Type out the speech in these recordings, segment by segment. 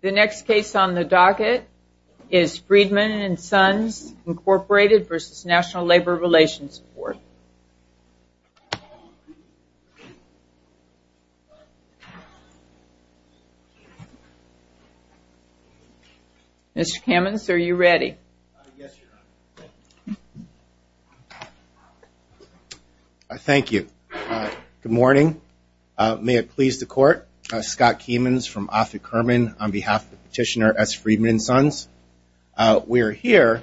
The next case on the docket is Freedman & Sons, Inc. v. NLRB. Mr. Kamins, are you ready? Thank you. Good morning. May it please the Court, Scott Kamins from Offutt Kerman on behalf of Petitioner S. Freedman & Sons. We are here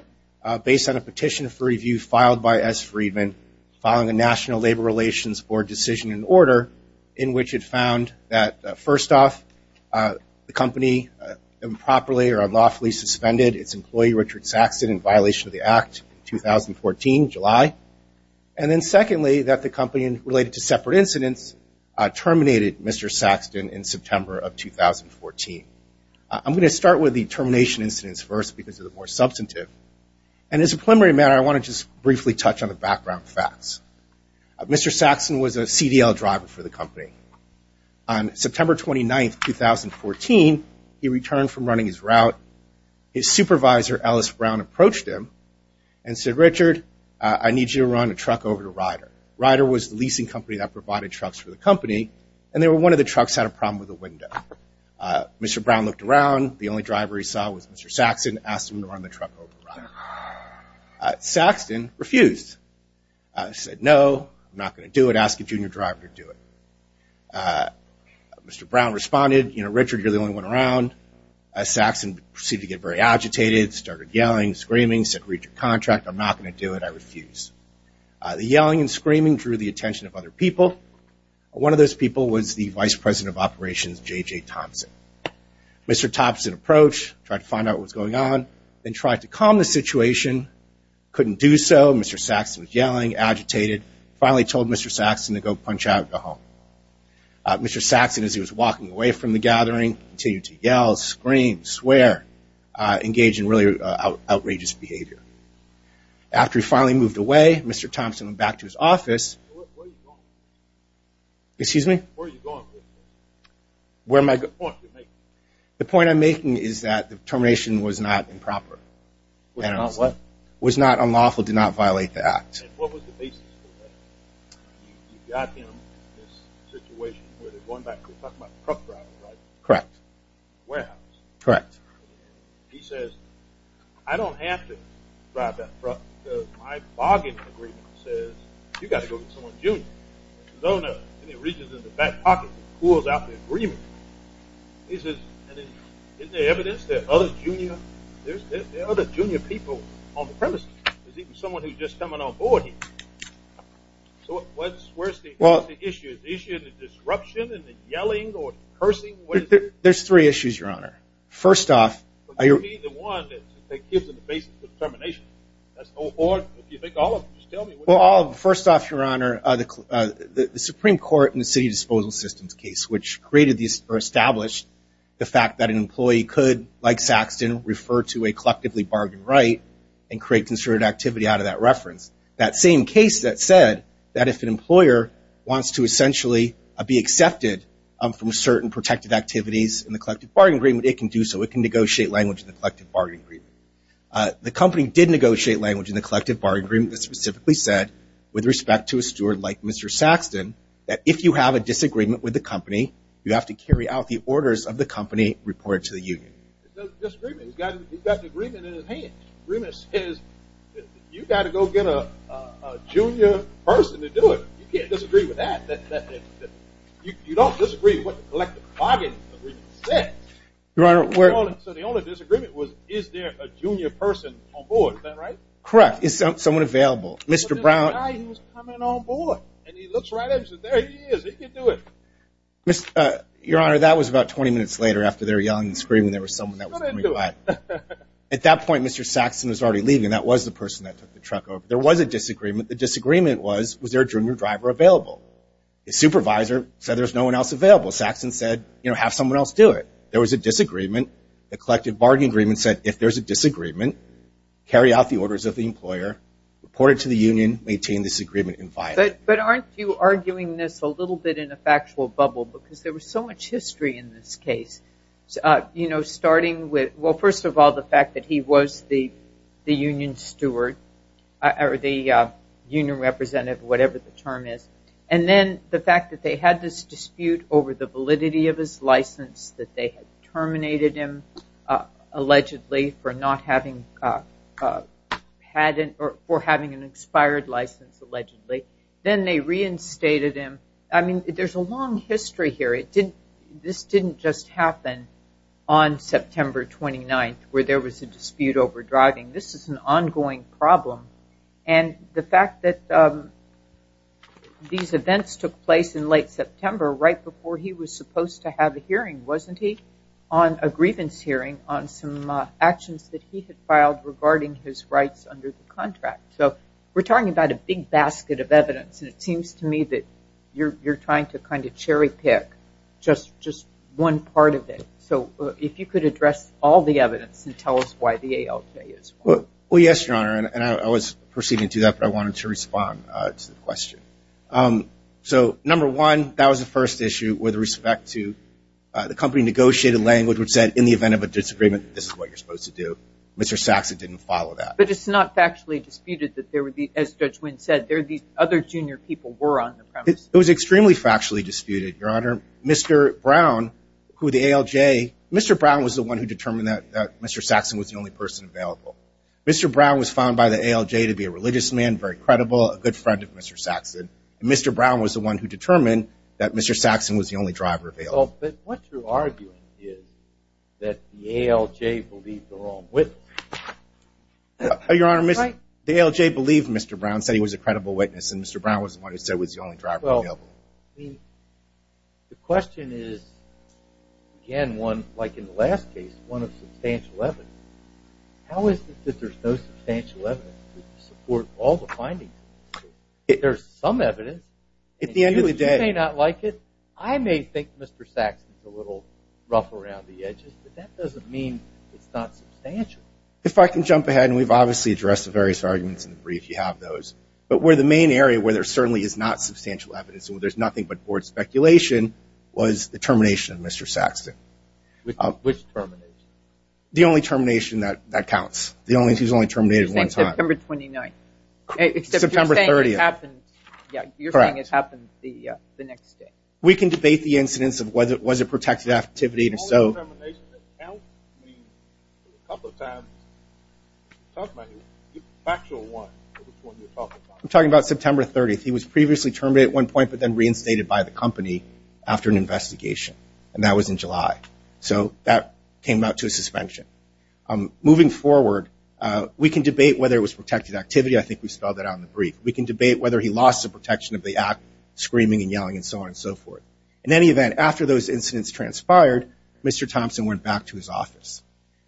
based on a petition for review filed by S. Freedman following a National Labor Relations Board decision in order in which it found that, first off, the company improperly or unlawfully suspended its employee, Richard Saxton, in violation of the Act in 2014, July. And then secondly, that the company, related to separate incidents, terminated Mr. Saxton in September of 2014. I'm going to start with the termination incidents first because they're the more substantive. And as a preliminary matter, I want to just briefly touch on the background facts. Mr. Saxton was a CDL driver for the company. On September 29th, 2014, he returned from running his route. His supervisor, Ellis Brown, approached him and said, Richard, I need you to run a truck over to Ryder. Ryder was the leasing company that provided trucks for the company. And they were one of the trucks that had a problem with the window. Mr. Brown looked around. The only driver he saw was Mr. Saxton. Asked him to run the truck over to Ryder. Saxton refused. Said, no, I'm not going to do it. Ask a junior driver to do it. Mr. Brown responded, you know, Richard, you're the only one around. Saxton seemed to get very agitated, started yelling, screaming, said, read your contract. I'm not going to do it. I refuse. The yelling and screaming drew the attention of other people. One of those people was the vice president of operations, J.J. Thompson. Mr. Thompson approached, tried to find out what was going on, then tried to calm the situation. Couldn't do so. Mr. Saxton was yelling, agitated. Finally told Mr. Saxton to go punch out and go home. Mr. Saxton, as he was walking away from the gathering, continued to yell, scream, swear, engage in really outrageous behavior. After he finally moved away, Mr. Thompson went back to his office. Where are you going? Excuse me? Where are you going? Where am I going? The point you're making. The point I'm making is that the termination was not improper. Was not what? Was not unlawful, did not violate the act. And what was the basis for that? You got him in this situation where they're going back, we're talking about truck driving, right? Correct. Warehouse. Correct. He says, I don't have to drive that truck because my bargain agreement says you've got to go to someone's junior. And his owner reaches in the back pocket and pulls out the agreement. Isn't there evidence there are other junior people on the premises? There's even someone who's just coming on board here. So where's the issue? The issue of the disruption and the yelling or cursing? There's three issues, Your Honor. First off. Are you going to be the one that gives them the basis for termination? Or if you think all of them, just tell me. Well, first off, Your Honor, the Supreme Court in the City Disposal Systems case, which created or established the fact that an employee could, like Saxton, refer to a collectively bargained right and create concerted activity out of that reference. That same case that said that if an employer wants to essentially be accepted from certain protected activities in the collective bargaining agreement, it can do so. It can negotiate language in the collective bargaining agreement. The company did negotiate language in the collective bargaining agreement that specifically said, with respect to a steward like Mr. Saxton, that if you have a disagreement with the company, you have to carry out the orders of the company reported to the union. Disagreement. He's got the agreement in his hand. The agreement says you've got to go get a junior person to do it. You can't disagree with that. You don't disagree with what the collective bargaining agreement says. Your Honor, we're So the only disagreement was, is there a junior person on board? Is that right? Correct. Is someone available? Mr. Brown There's a guy who's coming on board, and he looks right at me and says, there he is. He can do it. Your Honor, that was about 20 minutes later after they were yelling and screaming. There was someone that was coming by. At that point, Mr. Saxton was already leaving. That was the person that took the truck over. There was a disagreement. The disagreement was, was there a junior driver available? The supervisor said there's no one else available. Saxton said, you know, have someone else do it. There was a disagreement. The collective bargaining agreement said if there's a disagreement, carry out the orders of the employer, report it to the union, maintain this agreement, and file it. But aren't you arguing this a little bit in a factual bubble? Because there was so much history in this case, you know, starting with, well, first of all, the fact that he was the union steward or the union representative, whatever the term is, and then the fact that they had this dispute over the validity of his license that they had terminated him allegedly for not having a patent or for having an expired license allegedly. Then they reinstated him. I mean, there's a long history here. This didn't just happen on September 29th where there was a dispute over driving. This is an ongoing problem. And the fact that these events took place in late September, right before he was supposed to have a hearing, wasn't he? On a grievance hearing on some actions that he had filed regarding his rights under the contract. So we're talking about a big basket of evidence, and it seems to me that you're trying to kind of cherry pick just one part of it. So if you could address all the evidence and tell us why the ALJ is wrong. Well, yes, Your Honor, and I was proceeding to that, but I wanted to respond to the question. So, number one, that was the first issue with respect to the company negotiated language which said, in the event of a disagreement, this is what you're supposed to do. Mr. Saxon didn't follow that. But it's not factually disputed that there would be, as Judge Wynn said, there would be other junior people were on the premise. It was extremely factually disputed, Your Honor. Mr. Brown, who the ALJ, Mr. Brown was the one who determined that Mr. Saxon was the only person available. Mr. Brown was found by the ALJ to be a religious man, very credible, a good friend of Mr. Saxon, and Mr. Brown was the one who determined that Mr. Saxon was the only driver available. But what you're arguing is that the ALJ believed the wrong witness. Your Honor, the ALJ believed Mr. Brown, said he was a credible witness, and Mr. Brown was the one who said he was the only driver available. Well, the question is, again, one, like in the last case, one of substantial evidence. How is it that there's no substantial evidence to support all the findings? There's some evidence. At the end of the day. And you may not like it. I may think Mr. Saxon's a little rough around the edges, but that doesn't mean it's not substantial. If I can jump ahead, and we've obviously addressed the various arguments in the brief, you have those. But where the main area where there certainly is not substantial evidence, where there's nothing but board speculation, was the termination of Mr. Saxon. Which termination? The only termination that counts. He was only terminated one time. September 29th. September 30th. Except you're saying it happened the next day. We can debate the incidence of whether it was a protected activity. The only termination that counts means a couple of times. Talk about it. Factual one. I'm talking about September 30th. He was previously terminated at one point, but then reinstated by the company after an investigation. And that was in July. So that came out to a suspension. Moving forward, we can debate whether it was protected activity. I think we spelled that out in the brief. We can debate whether he lost the protection of the act, screaming and yelling and so on and so forth. In any event, after those incidents transpired, Mr. Thompson went back to his office.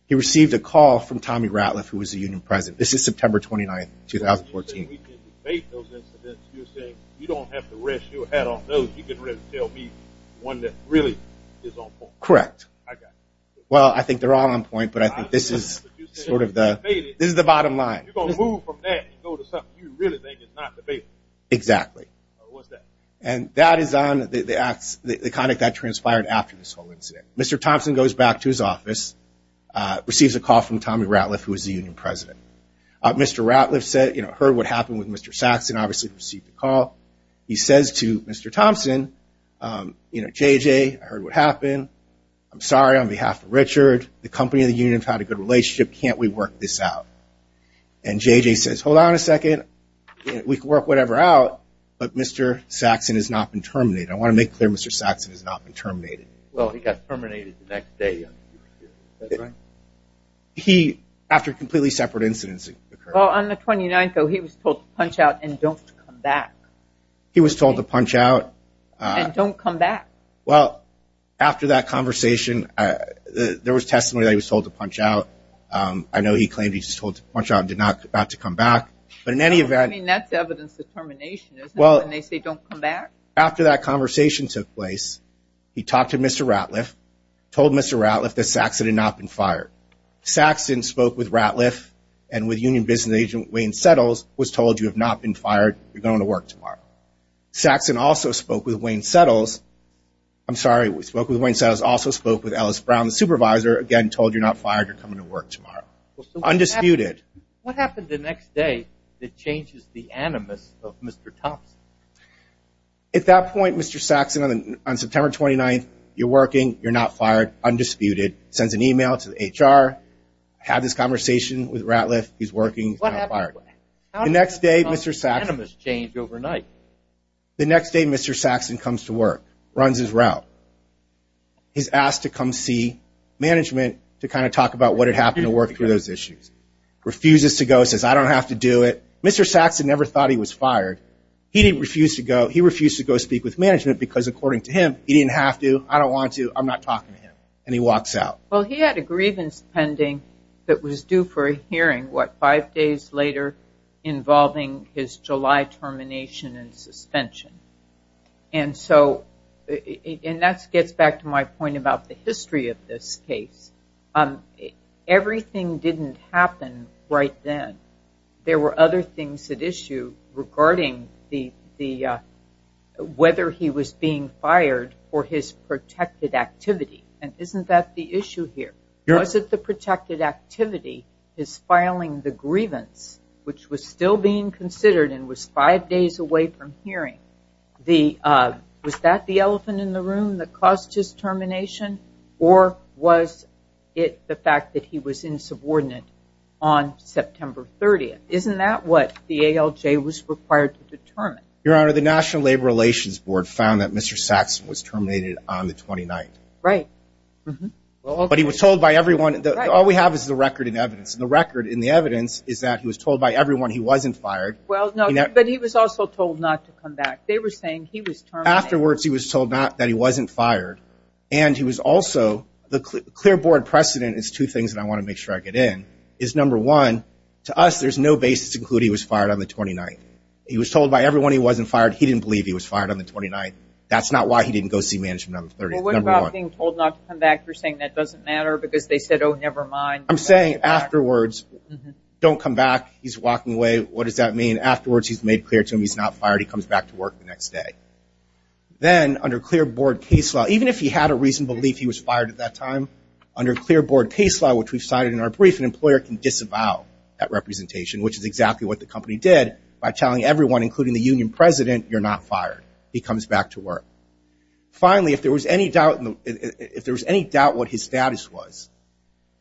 He received a call from Tommy Ratliff, who was the union president. This is September 29th, 2014. You're saying we can debate those incidents. You're saying you don't have to rest your head on those. One that really is on point. Correct. Well, I think they're all on point, but I think this is sort of the bottom line. You're going to move from that and go to something you really think is not debatable. Exactly. What's that? And that is on the conduct that transpired after this whole incident. Mr. Thompson goes back to his office, receives a call from Tommy Ratliff, who was the union president. Mr. Ratliff heard what happened with Mr. Saxon, obviously received the call. He says to Mr. Thompson, you know, J.J., I heard what happened. I'm sorry on behalf of Richard. The company and the union have had a good relationship. Can't we work this out? And J.J. says, hold on a second. We can work whatever out, but Mr. Saxon has not been terminated. I want to make clear Mr. Saxon has not been terminated. Well, he got terminated the next day. That's right. He, after completely separate incidents occurred. Well, on the 29th, though, he was told to punch out and don't come back. He was told to punch out. And don't come back. Well, after that conversation, there was testimony that he was told to punch out. I know he claimed he was told to punch out and did not come back. But in any event. I mean, that's evidence of termination, isn't it, when they say don't come back? After that conversation took place, he talked to Mr. Ratliff, told Mr. Ratliff that Saxon had not been fired. Saxon spoke with Ratliff and with union business agent Wayne Settles, was told you have not been fired, you're going to work tomorrow. Saxon also spoke with Wayne Settles. I'm sorry, spoke with Wayne Settles, also spoke with Ellis Brown, the supervisor, again, told you're not fired, you're coming to work tomorrow. Undisputed. What happened the next day that changes the animus of Mr. Thompson? At that point, Mr. Saxon, on September 29th, you're working, you're not fired, undisputed, sends an email to the HR, had this conversation with Ratliff, he's working, he's not fired. The next day Mr. Saxon comes to work, runs his route. He's asked to come see management to kind of talk about what had happened to work through those issues. Refuses to go, says I don't have to do it. Mr. Saxon never thought he was fired. He didn't refuse to go. He refused to go speak with management because, according to him, he didn't have to. I don't want to, I'm not talking to him. And he walks out. Well, he had a grievance pending that was due for a hearing, what, five days later involving his July termination and suspension. And so, and that gets back to my point about the history of this case. Everything didn't happen right then. There were other things at issue regarding whether he was being fired for his protected activity. And isn't that the issue here? Was it the protected activity, his filing the grievance, which was still being considered and was five days away from hearing, was that the elephant in the room that caused his termination? Or was it the fact that he was insubordinate on September 30th? Isn't that what the ALJ was required to determine? Your Honor, the National Labor Relations Board found that Mr. Saxon was terminated on the 29th. Right. But he was told by everyone, all we have is the record and evidence. And the record and the evidence is that he was told by everyone he wasn't fired. Well, no, but he was also told not to come back. They were saying he was terminated. Afterwards he was told not, that he wasn't fired. And he was also, the clear board precedent is two things that I want to make sure I get in, is number one, to us, there's no basis to include he was fired on the 29th. He was told by everyone he wasn't fired. He didn't believe he was fired on the 29th. That's not why he didn't go see management on the 30th. Well, what about being told not to come back? You're saying that doesn't matter because they said, oh, never mind. I'm saying afterwards, don't come back. What does that mean? Afterwards he's made clear to him he's not fired. He comes back to work the next day. Then under clear board case law, even if he had a reason to believe he was fired at that time, under clear board case law, which we've cited in our brief, an employer can disavow that representation, which is exactly what the company did by telling everyone, including the union president, you're not fired. He comes back to work. Finally, if there was any doubt what his status was,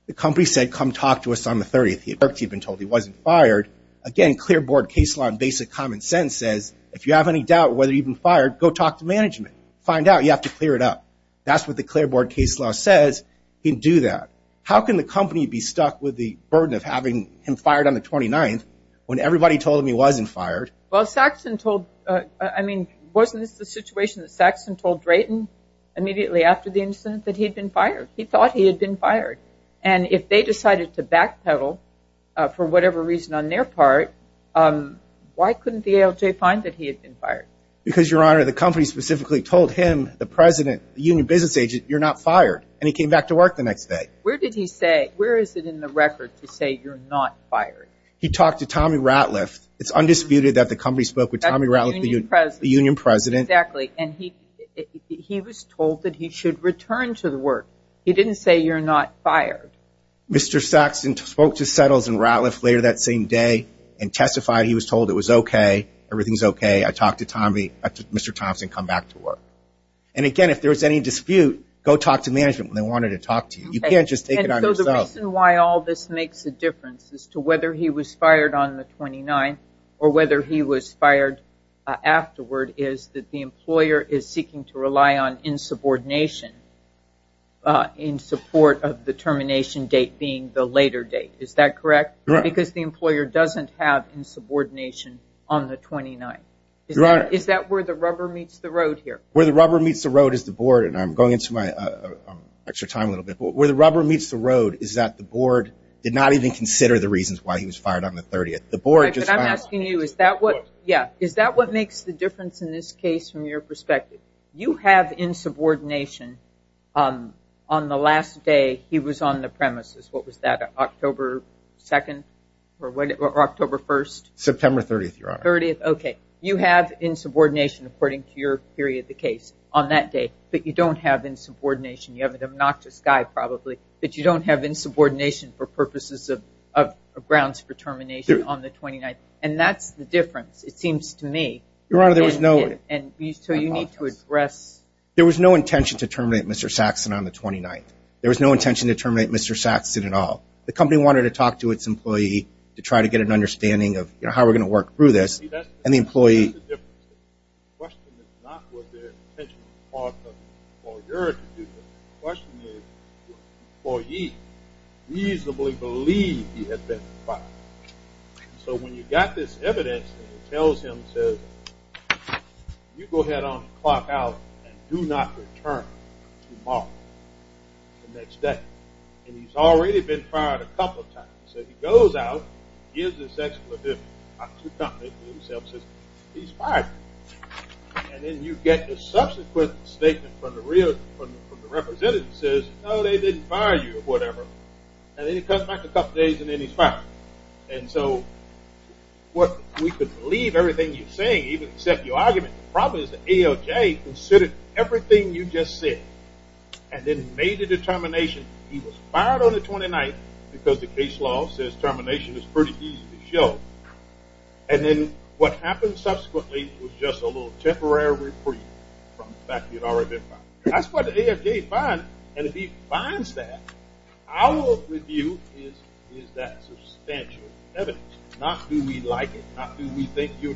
the company said, come talk to us on the 30th. He had been told he wasn't fired. Again, clear board case law and basic common sense says, if you have any doubt whether you've been fired, go talk to management. Find out. You have to clear it up. That's what the clear board case law says. You can do that. How can the company be stuck with the burden of having him fired on the 29th when everybody told him he wasn't fired? Well, Saxon told, I mean, wasn't this the situation that Saxon told Drayton immediately after the incident that he had been fired? He thought he had been fired. And if they decided to backpedal for whatever reason on their part, why couldn't the ALJ find that he had been fired? Because, Your Honor, the company specifically told him, the president, the union business agent, you're not fired. And he came back to work the next day. Where did he say, where is it in the record to say you're not fired? He talked to Tommy Ratliff. It's undisputed that the company spoke with Tommy Ratliff, the union president. Exactly. And he was told that he should return to the work. He didn't say you're not fired. Mr. Saxon spoke to Settles and Ratliff later that same day and testified he was told it was okay. Everything's okay. I talked to Tommy, Mr. Thompson, come back to work. And again, if there was any dispute, go talk to management when they wanted to talk to you. You can't just take it on yourself. And so the reason why all this makes a difference as to whether he was fired on the 29th or whether he was fired afterward is that the employer is seeking to rely on insubordination in support of the termination date being the later date. Is that correct? Correct. Because the employer doesn't have insubordination on the 29th. Is that where the rubber meets the road here? Where the rubber meets the road is the board. And I'm going into my extra time a little bit. Where the rubber meets the road is that the board did not even consider the reasons why he was fired on the 30th. I'm asking you, is that what makes the difference in this case from your perspective? You have insubordination on the last day he was on the premises. What was that, October 2nd or October 1st? September 30th, Your Honor. Okay. You have insubordination, according to your theory of the case, on that day. But you don't have insubordination. You have an obnoxious guy, probably. But you don't have insubordination for purposes of grounds for termination on the 29th. And that's the difference, it seems to me. Your Honor, there was no. And so you need to address. There was no intention to terminate Mr. Saxon on the 29th. There was no intention to terminate Mr. Saxon at all. The company wanted to talk to its employee to try to get an understanding of, you know, how we're going to work through this. And the employee. That's the difference. The question is not was there an intentional part of the employer to do this. The question is did the employee reasonably believe he had been fired? So when you've got this evidence that tells him, says, you go ahead on the clock out and do not return tomorrow. The next day. And he's already been fired a couple of times. So he goes out, gives this explanation. Talks to the company. He himself says, he's fired. And then you get a subsequent statement from the representatives that says, no, they didn't fire you, or whatever. And then he comes back a couple of days and then he's fired. And so what we could believe everything you're saying, even except your argument. The problem is the ALJ considered everything you just said and then made a determination. He was fired on the 29th because the case law says termination is pretty easy to show. And then what happened subsequently was just a little temporary reprieve from the fact that he had already been fired. That's what the ALJ finds. And if he finds that, our view is that substantial evidence. Not do we like it. Not do we think you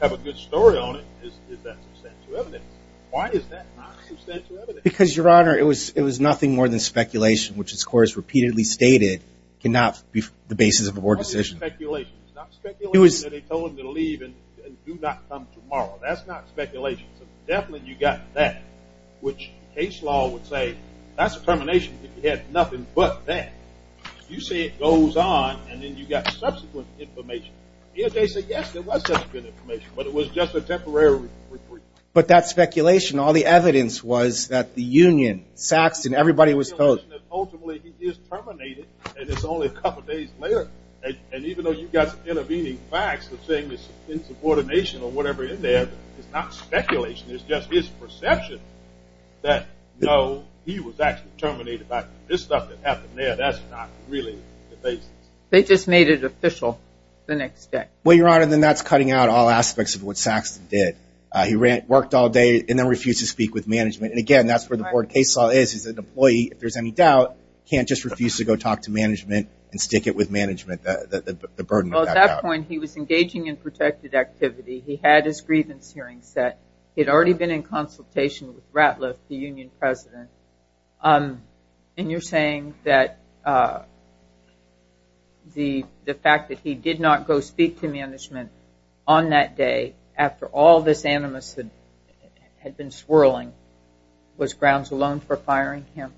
have a good story on it. It's that substantial evidence. Why is that not substantial evidence? Because, Your Honor, it was nothing more than speculation, which this Court has repeatedly stated cannot be the basis of a board decision. It's not speculation. It's not speculation that they told him to leave and do not come tomorrow. That's not speculation. So definitely you got that, which case law would say, that's a termination if you had nothing but that. You say it goes on and then you got subsequent information. Here they say, yes, there was subsequent information, but it was just a temporary reprieve. But that speculation, all the evidence was that the union, Saxton, everybody was told. Ultimately he is terminated and it's only a couple days later. And even though you've got intervening facts, coordination or whatever in there, it's not speculation. It's just his perception that, no, he was actually terminated by this stuff that happened there. That's not really the basis. They just made it official the next day. Well, Your Honor, then that's cutting out all aspects of what Saxton did. He worked all day and then refused to speak with management. And, again, that's where the board case law is. He's an employee. If there's any doubt, can't just refuse to go talk to management and stick it with management. Well, at that point he was engaging in protected activity. He had his grievance hearing set. He had already been in consultation with Ratliff, the union president. And you're saying that the fact that he did not go speak to management on that day, after all this animus had been swirling, was grounds alone for firing him?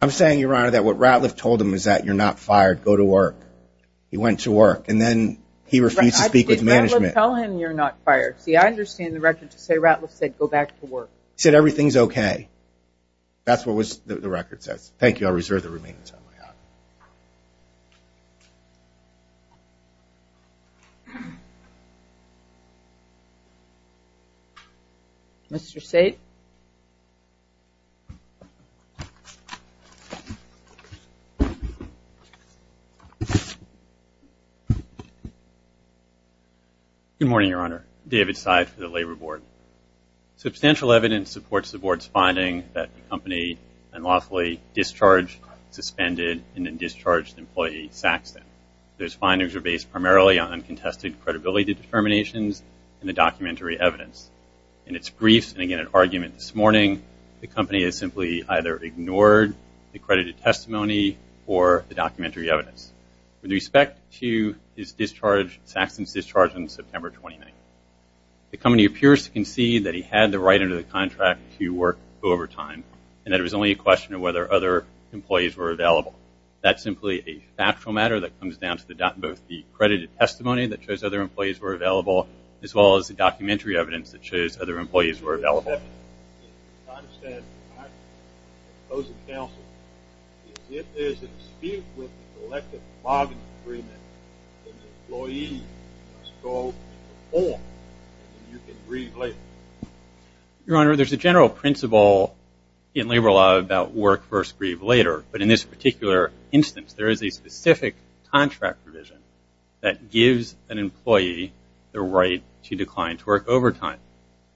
I'm saying, Your Honor, that what Ratliff told him is that you're not fired. Go to work. He went to work. And then he refused to speak with management. Ratliff, tell him you're not fired. See, I understand the record to say Ratliff said go back to work. He said everything's okay. That's what the record says. Thank you. I'll reserve the remaining time. Mr. Seid. Good morning, Your Honor. David Seid for the Labor Board. Substantial evidence supports the Board's finding that the company unlawfully discharged, suspended, and then discharged employee Saxton. Those findings are based primarily on contested credibility determinations and the documentary evidence. In its briefs and, again, in argument this morning, the company has simply either ignored the credited testimony or the documentary evidence. With respect to Saxton's discharge on September 29th, the company appears to concede that he had the right under the contract to work over time and that it was only a question of whether other employees were available. That's simply a factual matter that comes down to both the credited testimony that shows other employees were available as well as the documentary evidence that shows other employees were available. Your Honor, there's a general principle in labor law about work first, grieve later. But in this particular instance, there is a specific contract provision that gives an employee the right to decline to work over time.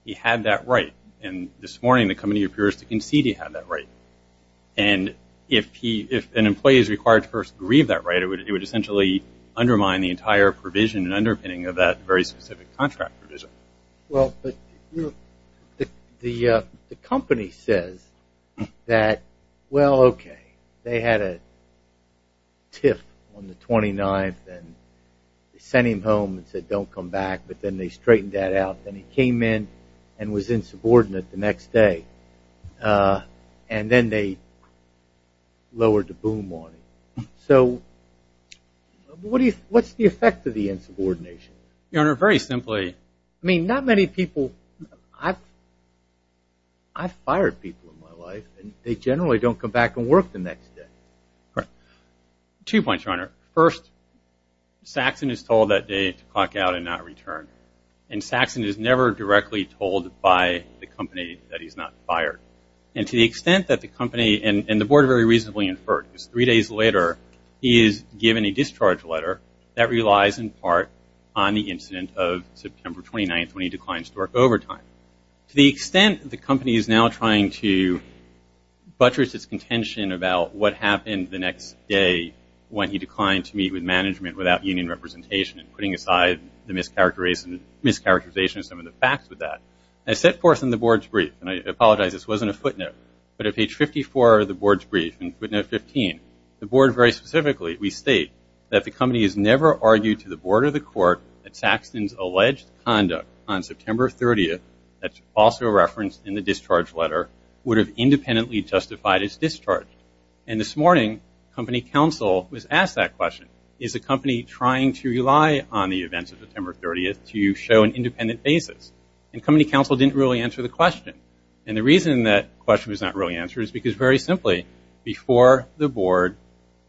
He had that right. And this morning, the company appears to concede he had that right. And if an employee is required to first grieve that right, it would essentially undermine the entire provision and underpinning of that very specific contract provision. Well, the company says that, well, okay, they had a TIF on the 29th and they sent him home and said don't come back, but then they straightened that out. Then he came in and was insubordinate the next day. And then they lowered the boom on him. So what's the effect of the insubordination? Your Honor, very simply, I mean, not many people – I've fired people in my life and they generally don't come back and work the next day. Two points, Your Honor. First, Saxon is told that day to clock out and not return. And Saxon is never directly told by the company that he's not fired. And to the extent that the company, and the Board very reasonably inferred, because three days later he is given a discharge letter that relies in part on the incident of September 29th when he declined to work overtime. To the extent the company is now trying to buttress its contention about what happened the next day when he declined to meet with management without union representation and putting aside the mischaracterization of some of the facts with that. I set forth in the Board's brief, and I apologize this wasn't a footnote, but at page 54 of the Board's brief in footnote 15, the Board very specifically, we state that the company has never argued to the Board or the Court that Saxon's alleged conduct on September 30th, that's also referenced in the discharge letter, would have independently justified his discharge. And this morning, company counsel was asked that question. Is the company trying to rely on the events of September 30th to show an independent basis? And company counsel didn't really answer the question. And the reason that question was not really answered is because, very simply, before the Board,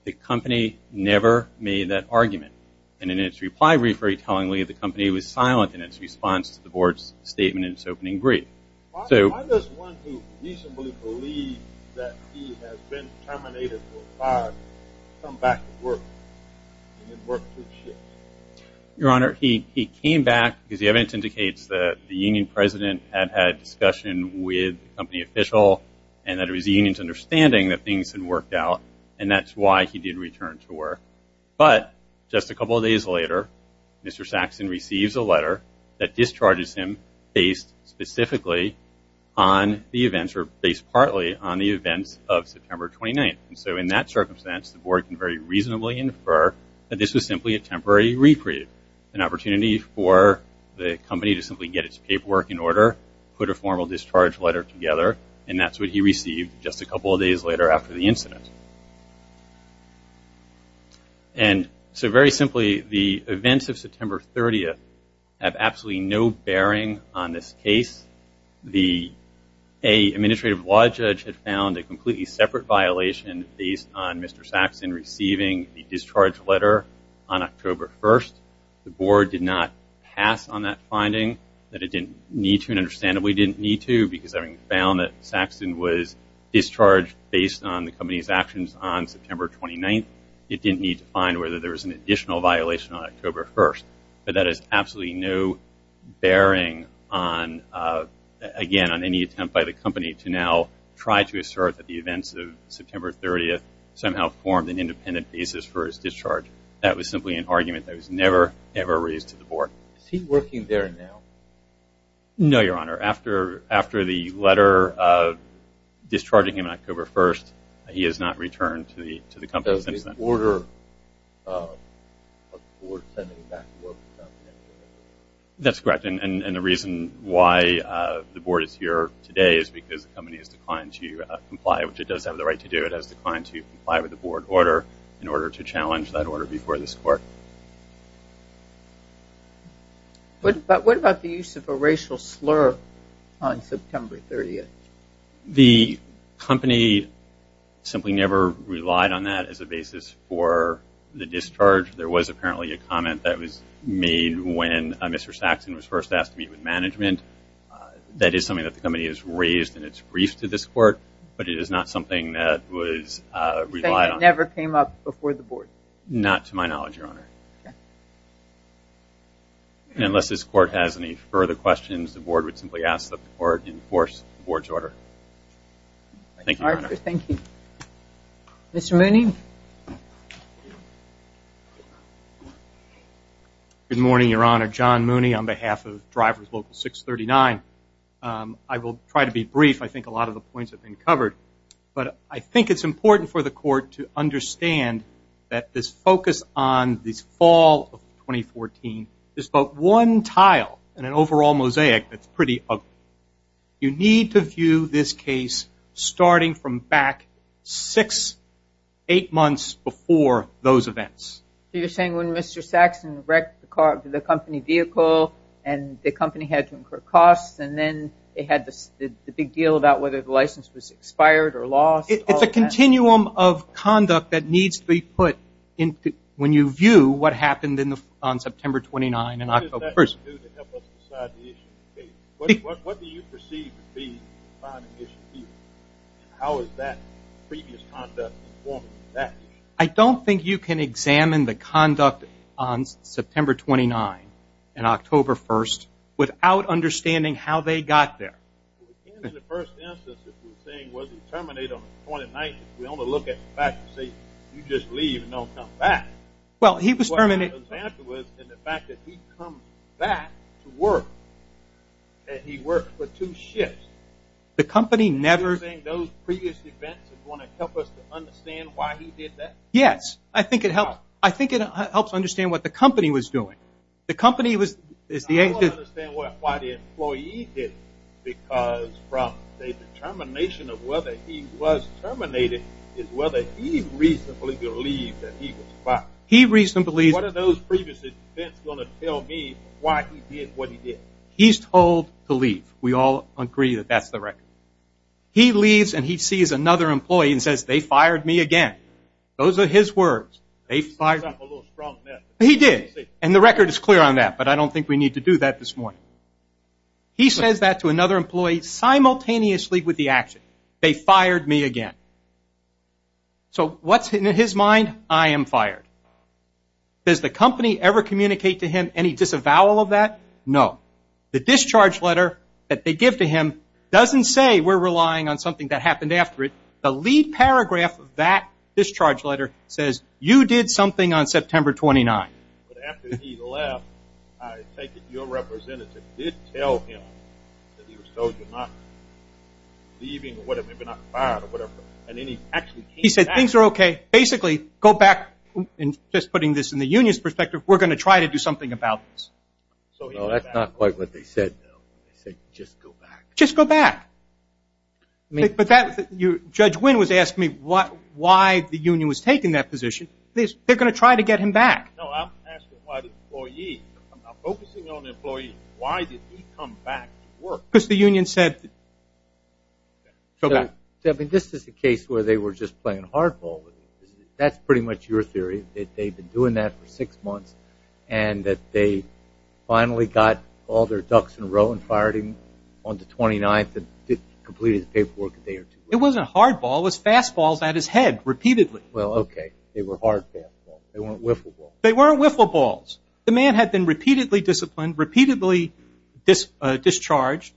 the company never made that argument. And in its reply brief, very tellingly, the company was silent in its response to the Board's statement in its opening brief. Why does one who reasonably believes that he has been terminated from the fire come back to work and then work for the shift? Your Honor, he came back because the evidence indicates that the union president had had a discussion with the company official and that it was the union's understanding that things had worked out, and that's why he did return to work. But just a couple of days later, Mr. Saxon receives a letter that discharges him based specifically on the events, or based partly on the events of September 29th. And so in that circumstance, the Board can very reasonably infer that this was simply a temporary reprieve, an opportunity for the company to simply get its paperwork in order, put a formal discharge letter together, and that's what he received just a couple of days later after the incident. And so very simply, the events of September 30th have absolutely no bearing on this case. The administrative law judge had found a completely separate violation based on Mr. Saxon receiving the discharge letter on October 1st. The Board did not pass on that finding, that it didn't need to, and understandably didn't need to, because having found that Saxon was discharged based on the company's actions on September 29th, it didn't need to find whether there was an additional violation on October 1st. But that has absolutely no bearing on, again, on any attempt by the company to now try to assert that the events of September 30th somehow formed an independent basis for his discharge. That was simply an argument that was never, ever raised to the Board. Is he working there now? No, Your Honor. After the letter discharging him on October 1st, he has not returned to the company since then. That's correct. And the reason why the Board is here today is because the company has declined to comply, which it does have the right to do. It has declined to comply with the Board order in order to challenge that order before this Court. But what about the use of a racial slur on September 30th? The company simply never relied on that as a basis for the discharge. There was apparently a comment that was made when Mr. Saxon was first asked to meet with management. That is something that the company has raised in its brief to this Court, but it is not something that was relied on. You're saying it never came up before the Board? Not to my knowledge, Your Honor. Unless this Court has any further questions, the Board would simply ask that the Court enforce the Board's order. Thank you, Your Honor. Thank you. Mr. Mooney? Good morning, Your Honor. John Mooney on behalf of Drivers Local 639. I will try to be brief. I think a lot of the points have been covered, but I think it's important for the Court to understand that this focus on this fall of 2014 is but one tile in an overall mosaic that's pretty ugly. You need to view this case starting from back six, eight months before those events. So you're saying when Mr. Saxon wrecked the company vehicle and the company had to incur costs and then they had the big deal about whether the license was expired or lost? It's a continuum of conduct that needs to be put in when you view what happened on September 29 and October 1. What does that do to help us decide the issue? What do you perceive to be the defining issue here? How is that previous conduct informing that issue? I don't think you can examine the conduct on September 29 and October 1 without understanding how they got there. In the first instance, if you're saying, was he terminated on the 29th, we only look at the fact that you just leave and don't come back. Well, he was terminated. The fact that he comes back to work, that he worked for two shifts. Are you saying those previous events are going to help us to understand why he did that? Yes. I think it helps understand what the company was doing. I don't understand why the employee did it because the determination of whether he was terminated is whether he reasonably believed that he was fired. What are those previous events going to tell me why he did what he did? He's told to leave. We all agree that that's the record. He leaves and he sees another employee and says, they fired me again. Those are his words. He's setting up a little strong net. He did, and the record is clear on that, but I don't think we need to do that this morning. He says that to another employee simultaneously with the action. They fired me again. So what's in his mind? I am fired. Does the company ever communicate to him any disavowal of that? No. The discharge letter that they give to him doesn't say we're relying on something that happened after it. The lead paragraph of that discharge letter says, you did something on September 29th. But after he left, I take it your representative did tell him that he was told to not leave or whatever, maybe not be fired or whatever, and then he actually came back. He said, things are okay. Basically, go back, and just putting this in the union's perspective, we're going to try to do something about this. So that's not quite what they said, though. They said, just go back. Just go back. But Judge Wynn was asking me why the union was taking that position. They're going to try to get him back. No, I'm asking why the employee. I'm focusing on the employee. Why did he come back to work? Because the union said, go back. This is the case where they were just playing hardball. That's pretty much your theory, that they've been doing that for six months and that they finally got all their ducks in a row and fired him on the 29th and completed the paperwork a day or two later. It wasn't hardball. It was fastballs at his head repeatedly. Well, okay. They were hardfastballs. They weren't whiffleballs. They weren't whiffleballs. The man had been repeatedly disciplined, repeatedly discharged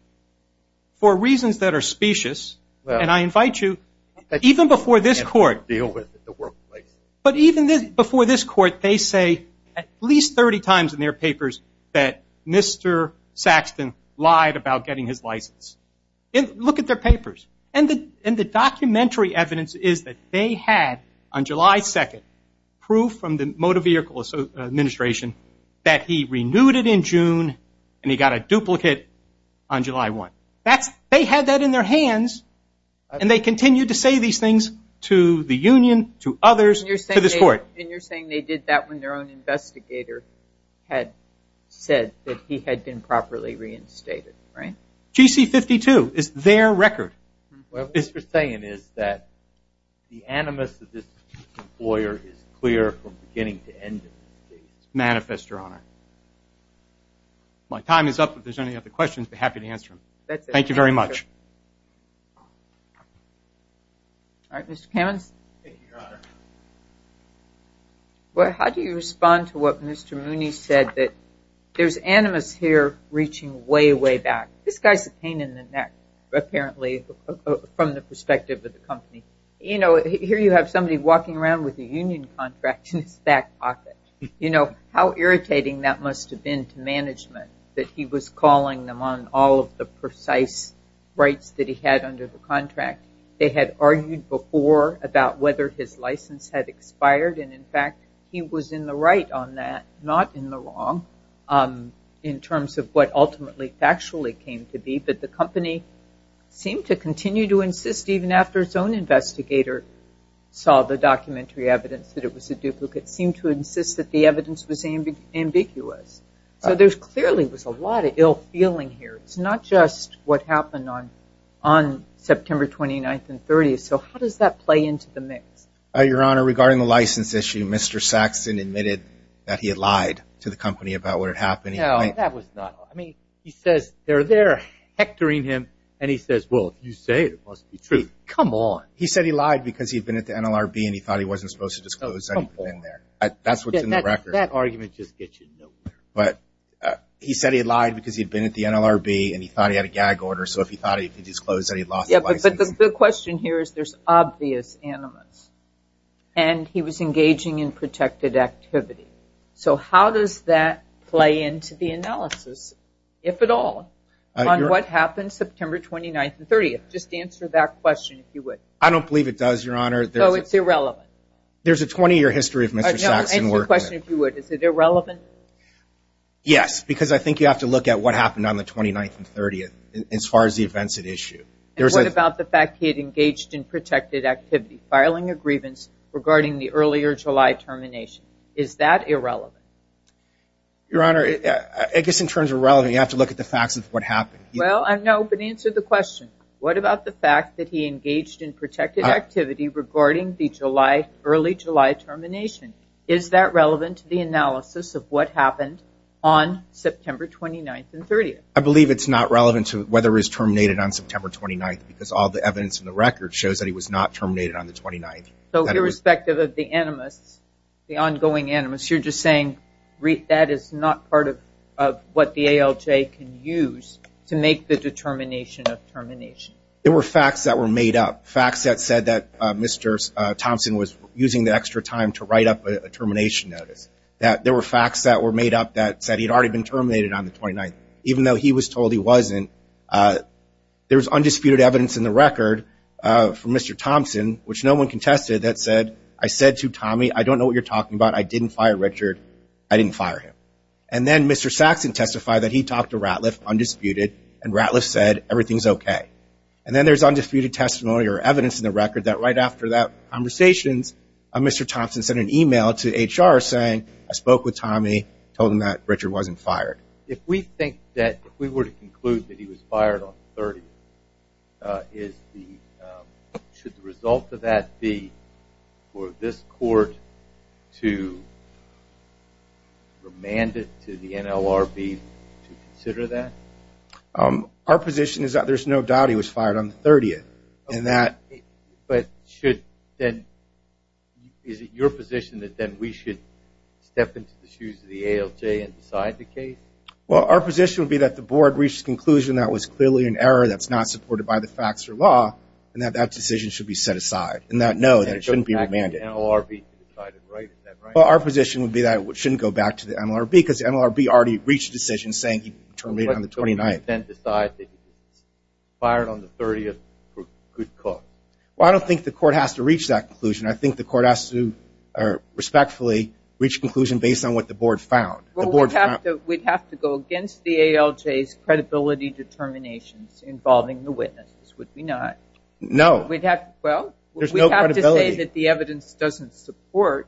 for reasons that are specious, and I invite you, even before this court, deal with it in the workplace. But even before this court, they say at least 30 times in their papers that Mr. Saxton lied about getting his license. Look at their papers. And the documentary evidence is that they had, on July 2nd, proof from the Motor Vehicle Administration that he renewed it in June and he got a duplicate on July 1st. They had that in their hands, and they continued to say these things to the union, to others, to this court. And you're saying they did that when their own investigator had said that he had been properly reinstated, right? GC-52 is their record. What this is saying is that the animus of this lawyer is clear from beginning to end in this case. It's manifest, Your Honor. My time is up. If there's any other questions, I'd be happy to answer them. Thank you very much. All right, Mr. Kamens. Thank you, Your Honor. Well, how do you respond to what Mr. Mooney said, that there's animus here reaching way, way back. This guy's a pain in the neck, apparently, from the perspective of the company. You know, here you have somebody walking around with a union contract in his back pocket. You know, how irritating that must have been to management that he was calling them on all of the precise rights that he had under the contract. They had argued before about whether his license had expired. And, in fact, he was in the right on that, not in the wrong, in terms of what ultimately factually came to be. But the company seemed to continue to insist, even after its own investigator saw the documentary evidence that it was a duplicate, seemed to insist that the evidence was ambiguous. So there clearly was a lot of ill feeling here. It's not just what happened on September 29th and 30th. So how does that play into the mix? Your Honor, regarding the license issue, Mr. Saxon admitted that he had lied to the company about what had happened. No, that was not. I mean, he says they're there hectoring him. And he says, well, if you say it, it must be true. Come on. He said he lied because he'd been at the NLRB and he thought he wasn't supposed to disclose anything there. That's what's in the record. That argument just gets you nowhere. He said he lied because he'd been at the NLRB and he thought he had a gag order, so if he thought he could disclose that he'd lost the license. But the question here is there's obvious animus. And he was engaging in protected activity. So how does that play into the analysis, if at all, on what happened September 29th and 30th? Just answer that question, if you would. I don't believe it does, Your Honor. So it's irrelevant. There's a 20-year history of Mr. Saxon working there. Answer the question, if you would. Is it irrelevant? Yes. Because I think you have to look at what happened on the 29th and 30th, as far as the events at issue. And what about the fact he had engaged in protected activity, filing a grievance regarding the earlier July termination? Is that irrelevant? Your Honor, I guess in terms of relevant, you have to look at the facts of what happened. Well, no, but answer the question. What about the fact that he engaged in protected activity regarding the early July termination? Is that relevant to the analysis of what happened on September 29th and 30th? I believe it's not relevant to whether he was terminated on September 29th, because all the evidence in the record shows that he was not terminated on the 29th. So irrespective of the animus, the ongoing animus, you're just saying that is not part of what the ALJ can use to make the determination of termination. There were facts that were made up, facts that said that Mr. Thompson was using the extra time to write up a termination notice, that there were facts that were made up that said he had already been terminated on the 29th. Even though he was told he wasn't, there was undisputed evidence in the record from Mr. Thompson, which no one contested, that said, I said to Tommy, I don't know what you're talking about. I didn't fire Richard. I didn't fire him. And then Mr. Saxon testified that he talked to Ratliff undisputed, and Ratliff said everything's okay. And then there's undisputed testimony or evidence in the record that right after that conversations, Mr. Thompson sent an email to HR saying, I spoke with Tommy, told him that Richard wasn't fired. If we think that if we were to conclude that he was fired on the 30th, should the result of that be for this court to remand it to the NLRB to consider that? Our position is that there's no doubt he was fired on the 30th. But is it your position that then we should step into the shoes of the ALJ and decide the case? Well, our position would be that the board reached a conclusion that was clearly an error that's not supported by the facts or law, and that that decision should be set aside, and that no, that it shouldn't be remanded. Well, our position would be that it shouldn't go back to the NLRB, because the NLRB already reached a decision saying he'd be terminated on the 29th. Then decide that he was fired on the 30th for good cause. Well, I don't think the court has to reach that conclusion. I think the court has to respectfully reach a conclusion based on what the board found. Well, we'd have to go against the ALJ's credibility determinations involving the witnesses, would we not? No. Well, we'd have to say that the evidence doesn't support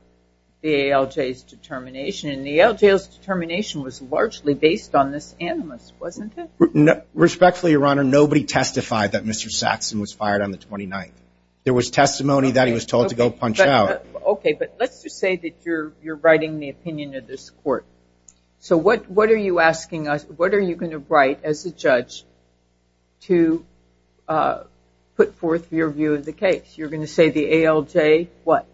the ALJ's determination was largely based on this animus, wasn't it? Respectfully, Your Honor, nobody testified that Mr. Saxon was fired on the 29th. There was testimony that he was told to go punch out. Okay, but let's just say that you're writing the opinion of this court. So what are you asking us, what are you going to write as a judge to put forth your view of the case? You're going to say the ALJ what?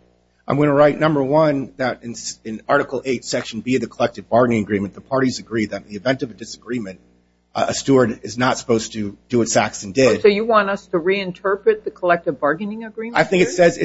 I'm going to write, number one, that in Article 8, Section B of the Collective Bargaining Agreement, the parties agree that in the event of a disagreement, a steward is not supposed to do what Saxon did. So you want us to reinterpret the Collective Bargaining Agreement? I think it says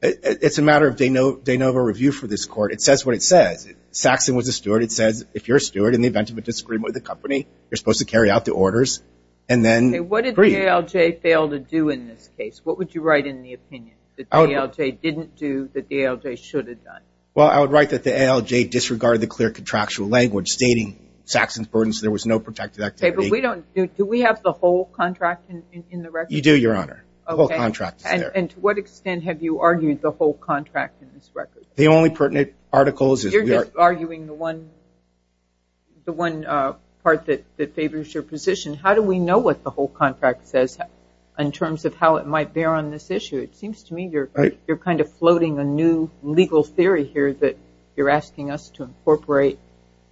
it's a matter of de novo review for this court. It says what it says. Saxon was a steward. It says if you're a steward in the event of a disagreement with a company, you're supposed to carry out the orders and then agree. What did the ALJ fail to do in this case? What would you write in the opinion that the ALJ didn't do that the ALJ should have done? Well, I would write that the ALJ disregarded the clear contractual language stating Saxon's burdens, there was no protected activity. Okay, but we don't do, do we have the whole contract in the record? You do, Your Honor. Okay. The whole contract is there. And to what extent have you argued the whole contract in this record? The only pertinent articles is we are. You're just arguing the one part that favors your position. How do we know what the whole contract says in terms of how it might bear on this issue? It seems to me you're kind of floating a new legal theory here that you're asking us to incorporate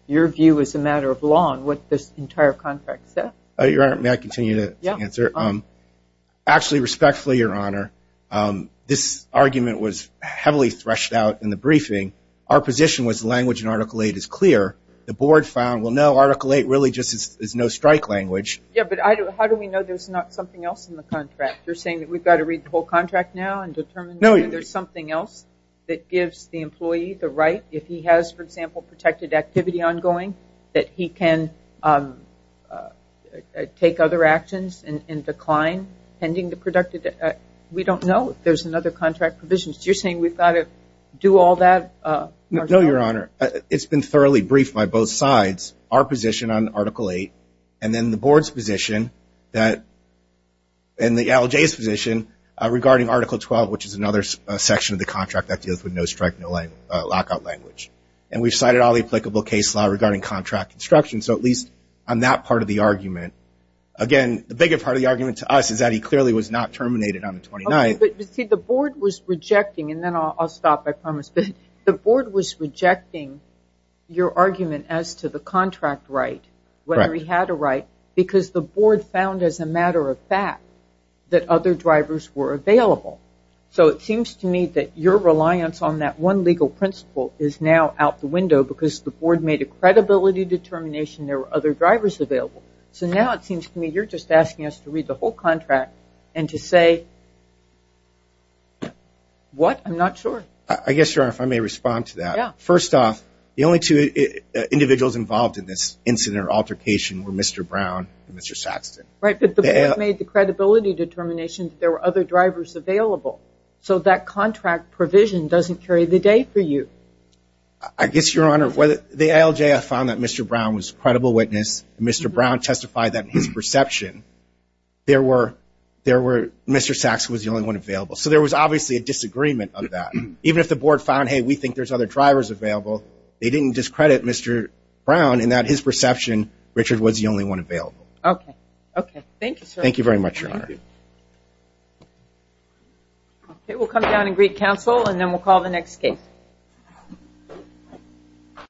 your view as a matter of law on what this entire contract says. Your Honor, may I continue to answer? Actually, respectfully, Your Honor, this argument was heavily threshed out in the briefing. Our position was language in Article 8 is clear. The board found, well, no, Article 8 really just is no strike language. Yeah, but how do we know there's not something else in the contract? You're saying that we've got to read the whole contract now and determine whether there's something else that gives the employee the right if he has, for example, protected activity ongoing, that he can take other actions and decline pending the productive. We don't know if there's another contract provision. So you're saying we've got to do all that? No, Your Honor. It's been thoroughly briefed by both sides, our position on Article 8, and then the board's position and the LJ's position regarding Article 12, which is another section of the contract that deals with no strike, no lockout language. And we've cited all the applicable case law regarding contract construction. So at least on that part of the argument, again, the bigger part of the argument to us is that he clearly was not terminated on the 29th. But, you see, the board was rejecting, and then I'll stop, I promise. The board was rejecting your argument as to the contract right, whether he had a right, because the board found as a matter of fact that other drivers were available. So it seems to me that your reliance on that one legal principle is now out the window because the board made a credibility determination there were other drivers available. So now it seems to me you're just asking us to read the whole contract and to say what? I'm not sure. I guess, Your Honor, if I may respond to that. Yeah. First off, the only two individuals involved in this incident or altercation were Mr. Brown and Mr. Saxton. Right. But the board made the credibility determination that there were other drivers available. So that contract provision doesn't carry the day for you. I guess, Your Honor, the LJ found that Mr. Brown was a credible witness. Mr. Brown testified that in his perception Mr. Saxton was the only one available. So there was obviously a disagreement on that. Even if the board found, hey, we think there's other drivers available, they didn't discredit Mr. Brown in that his perception Richard was the only one available. Okay. Okay. Thank you, sir. Thank you very much, Your Honor. Thank you. Okay. We'll come down and greet counsel and then we'll call the next case.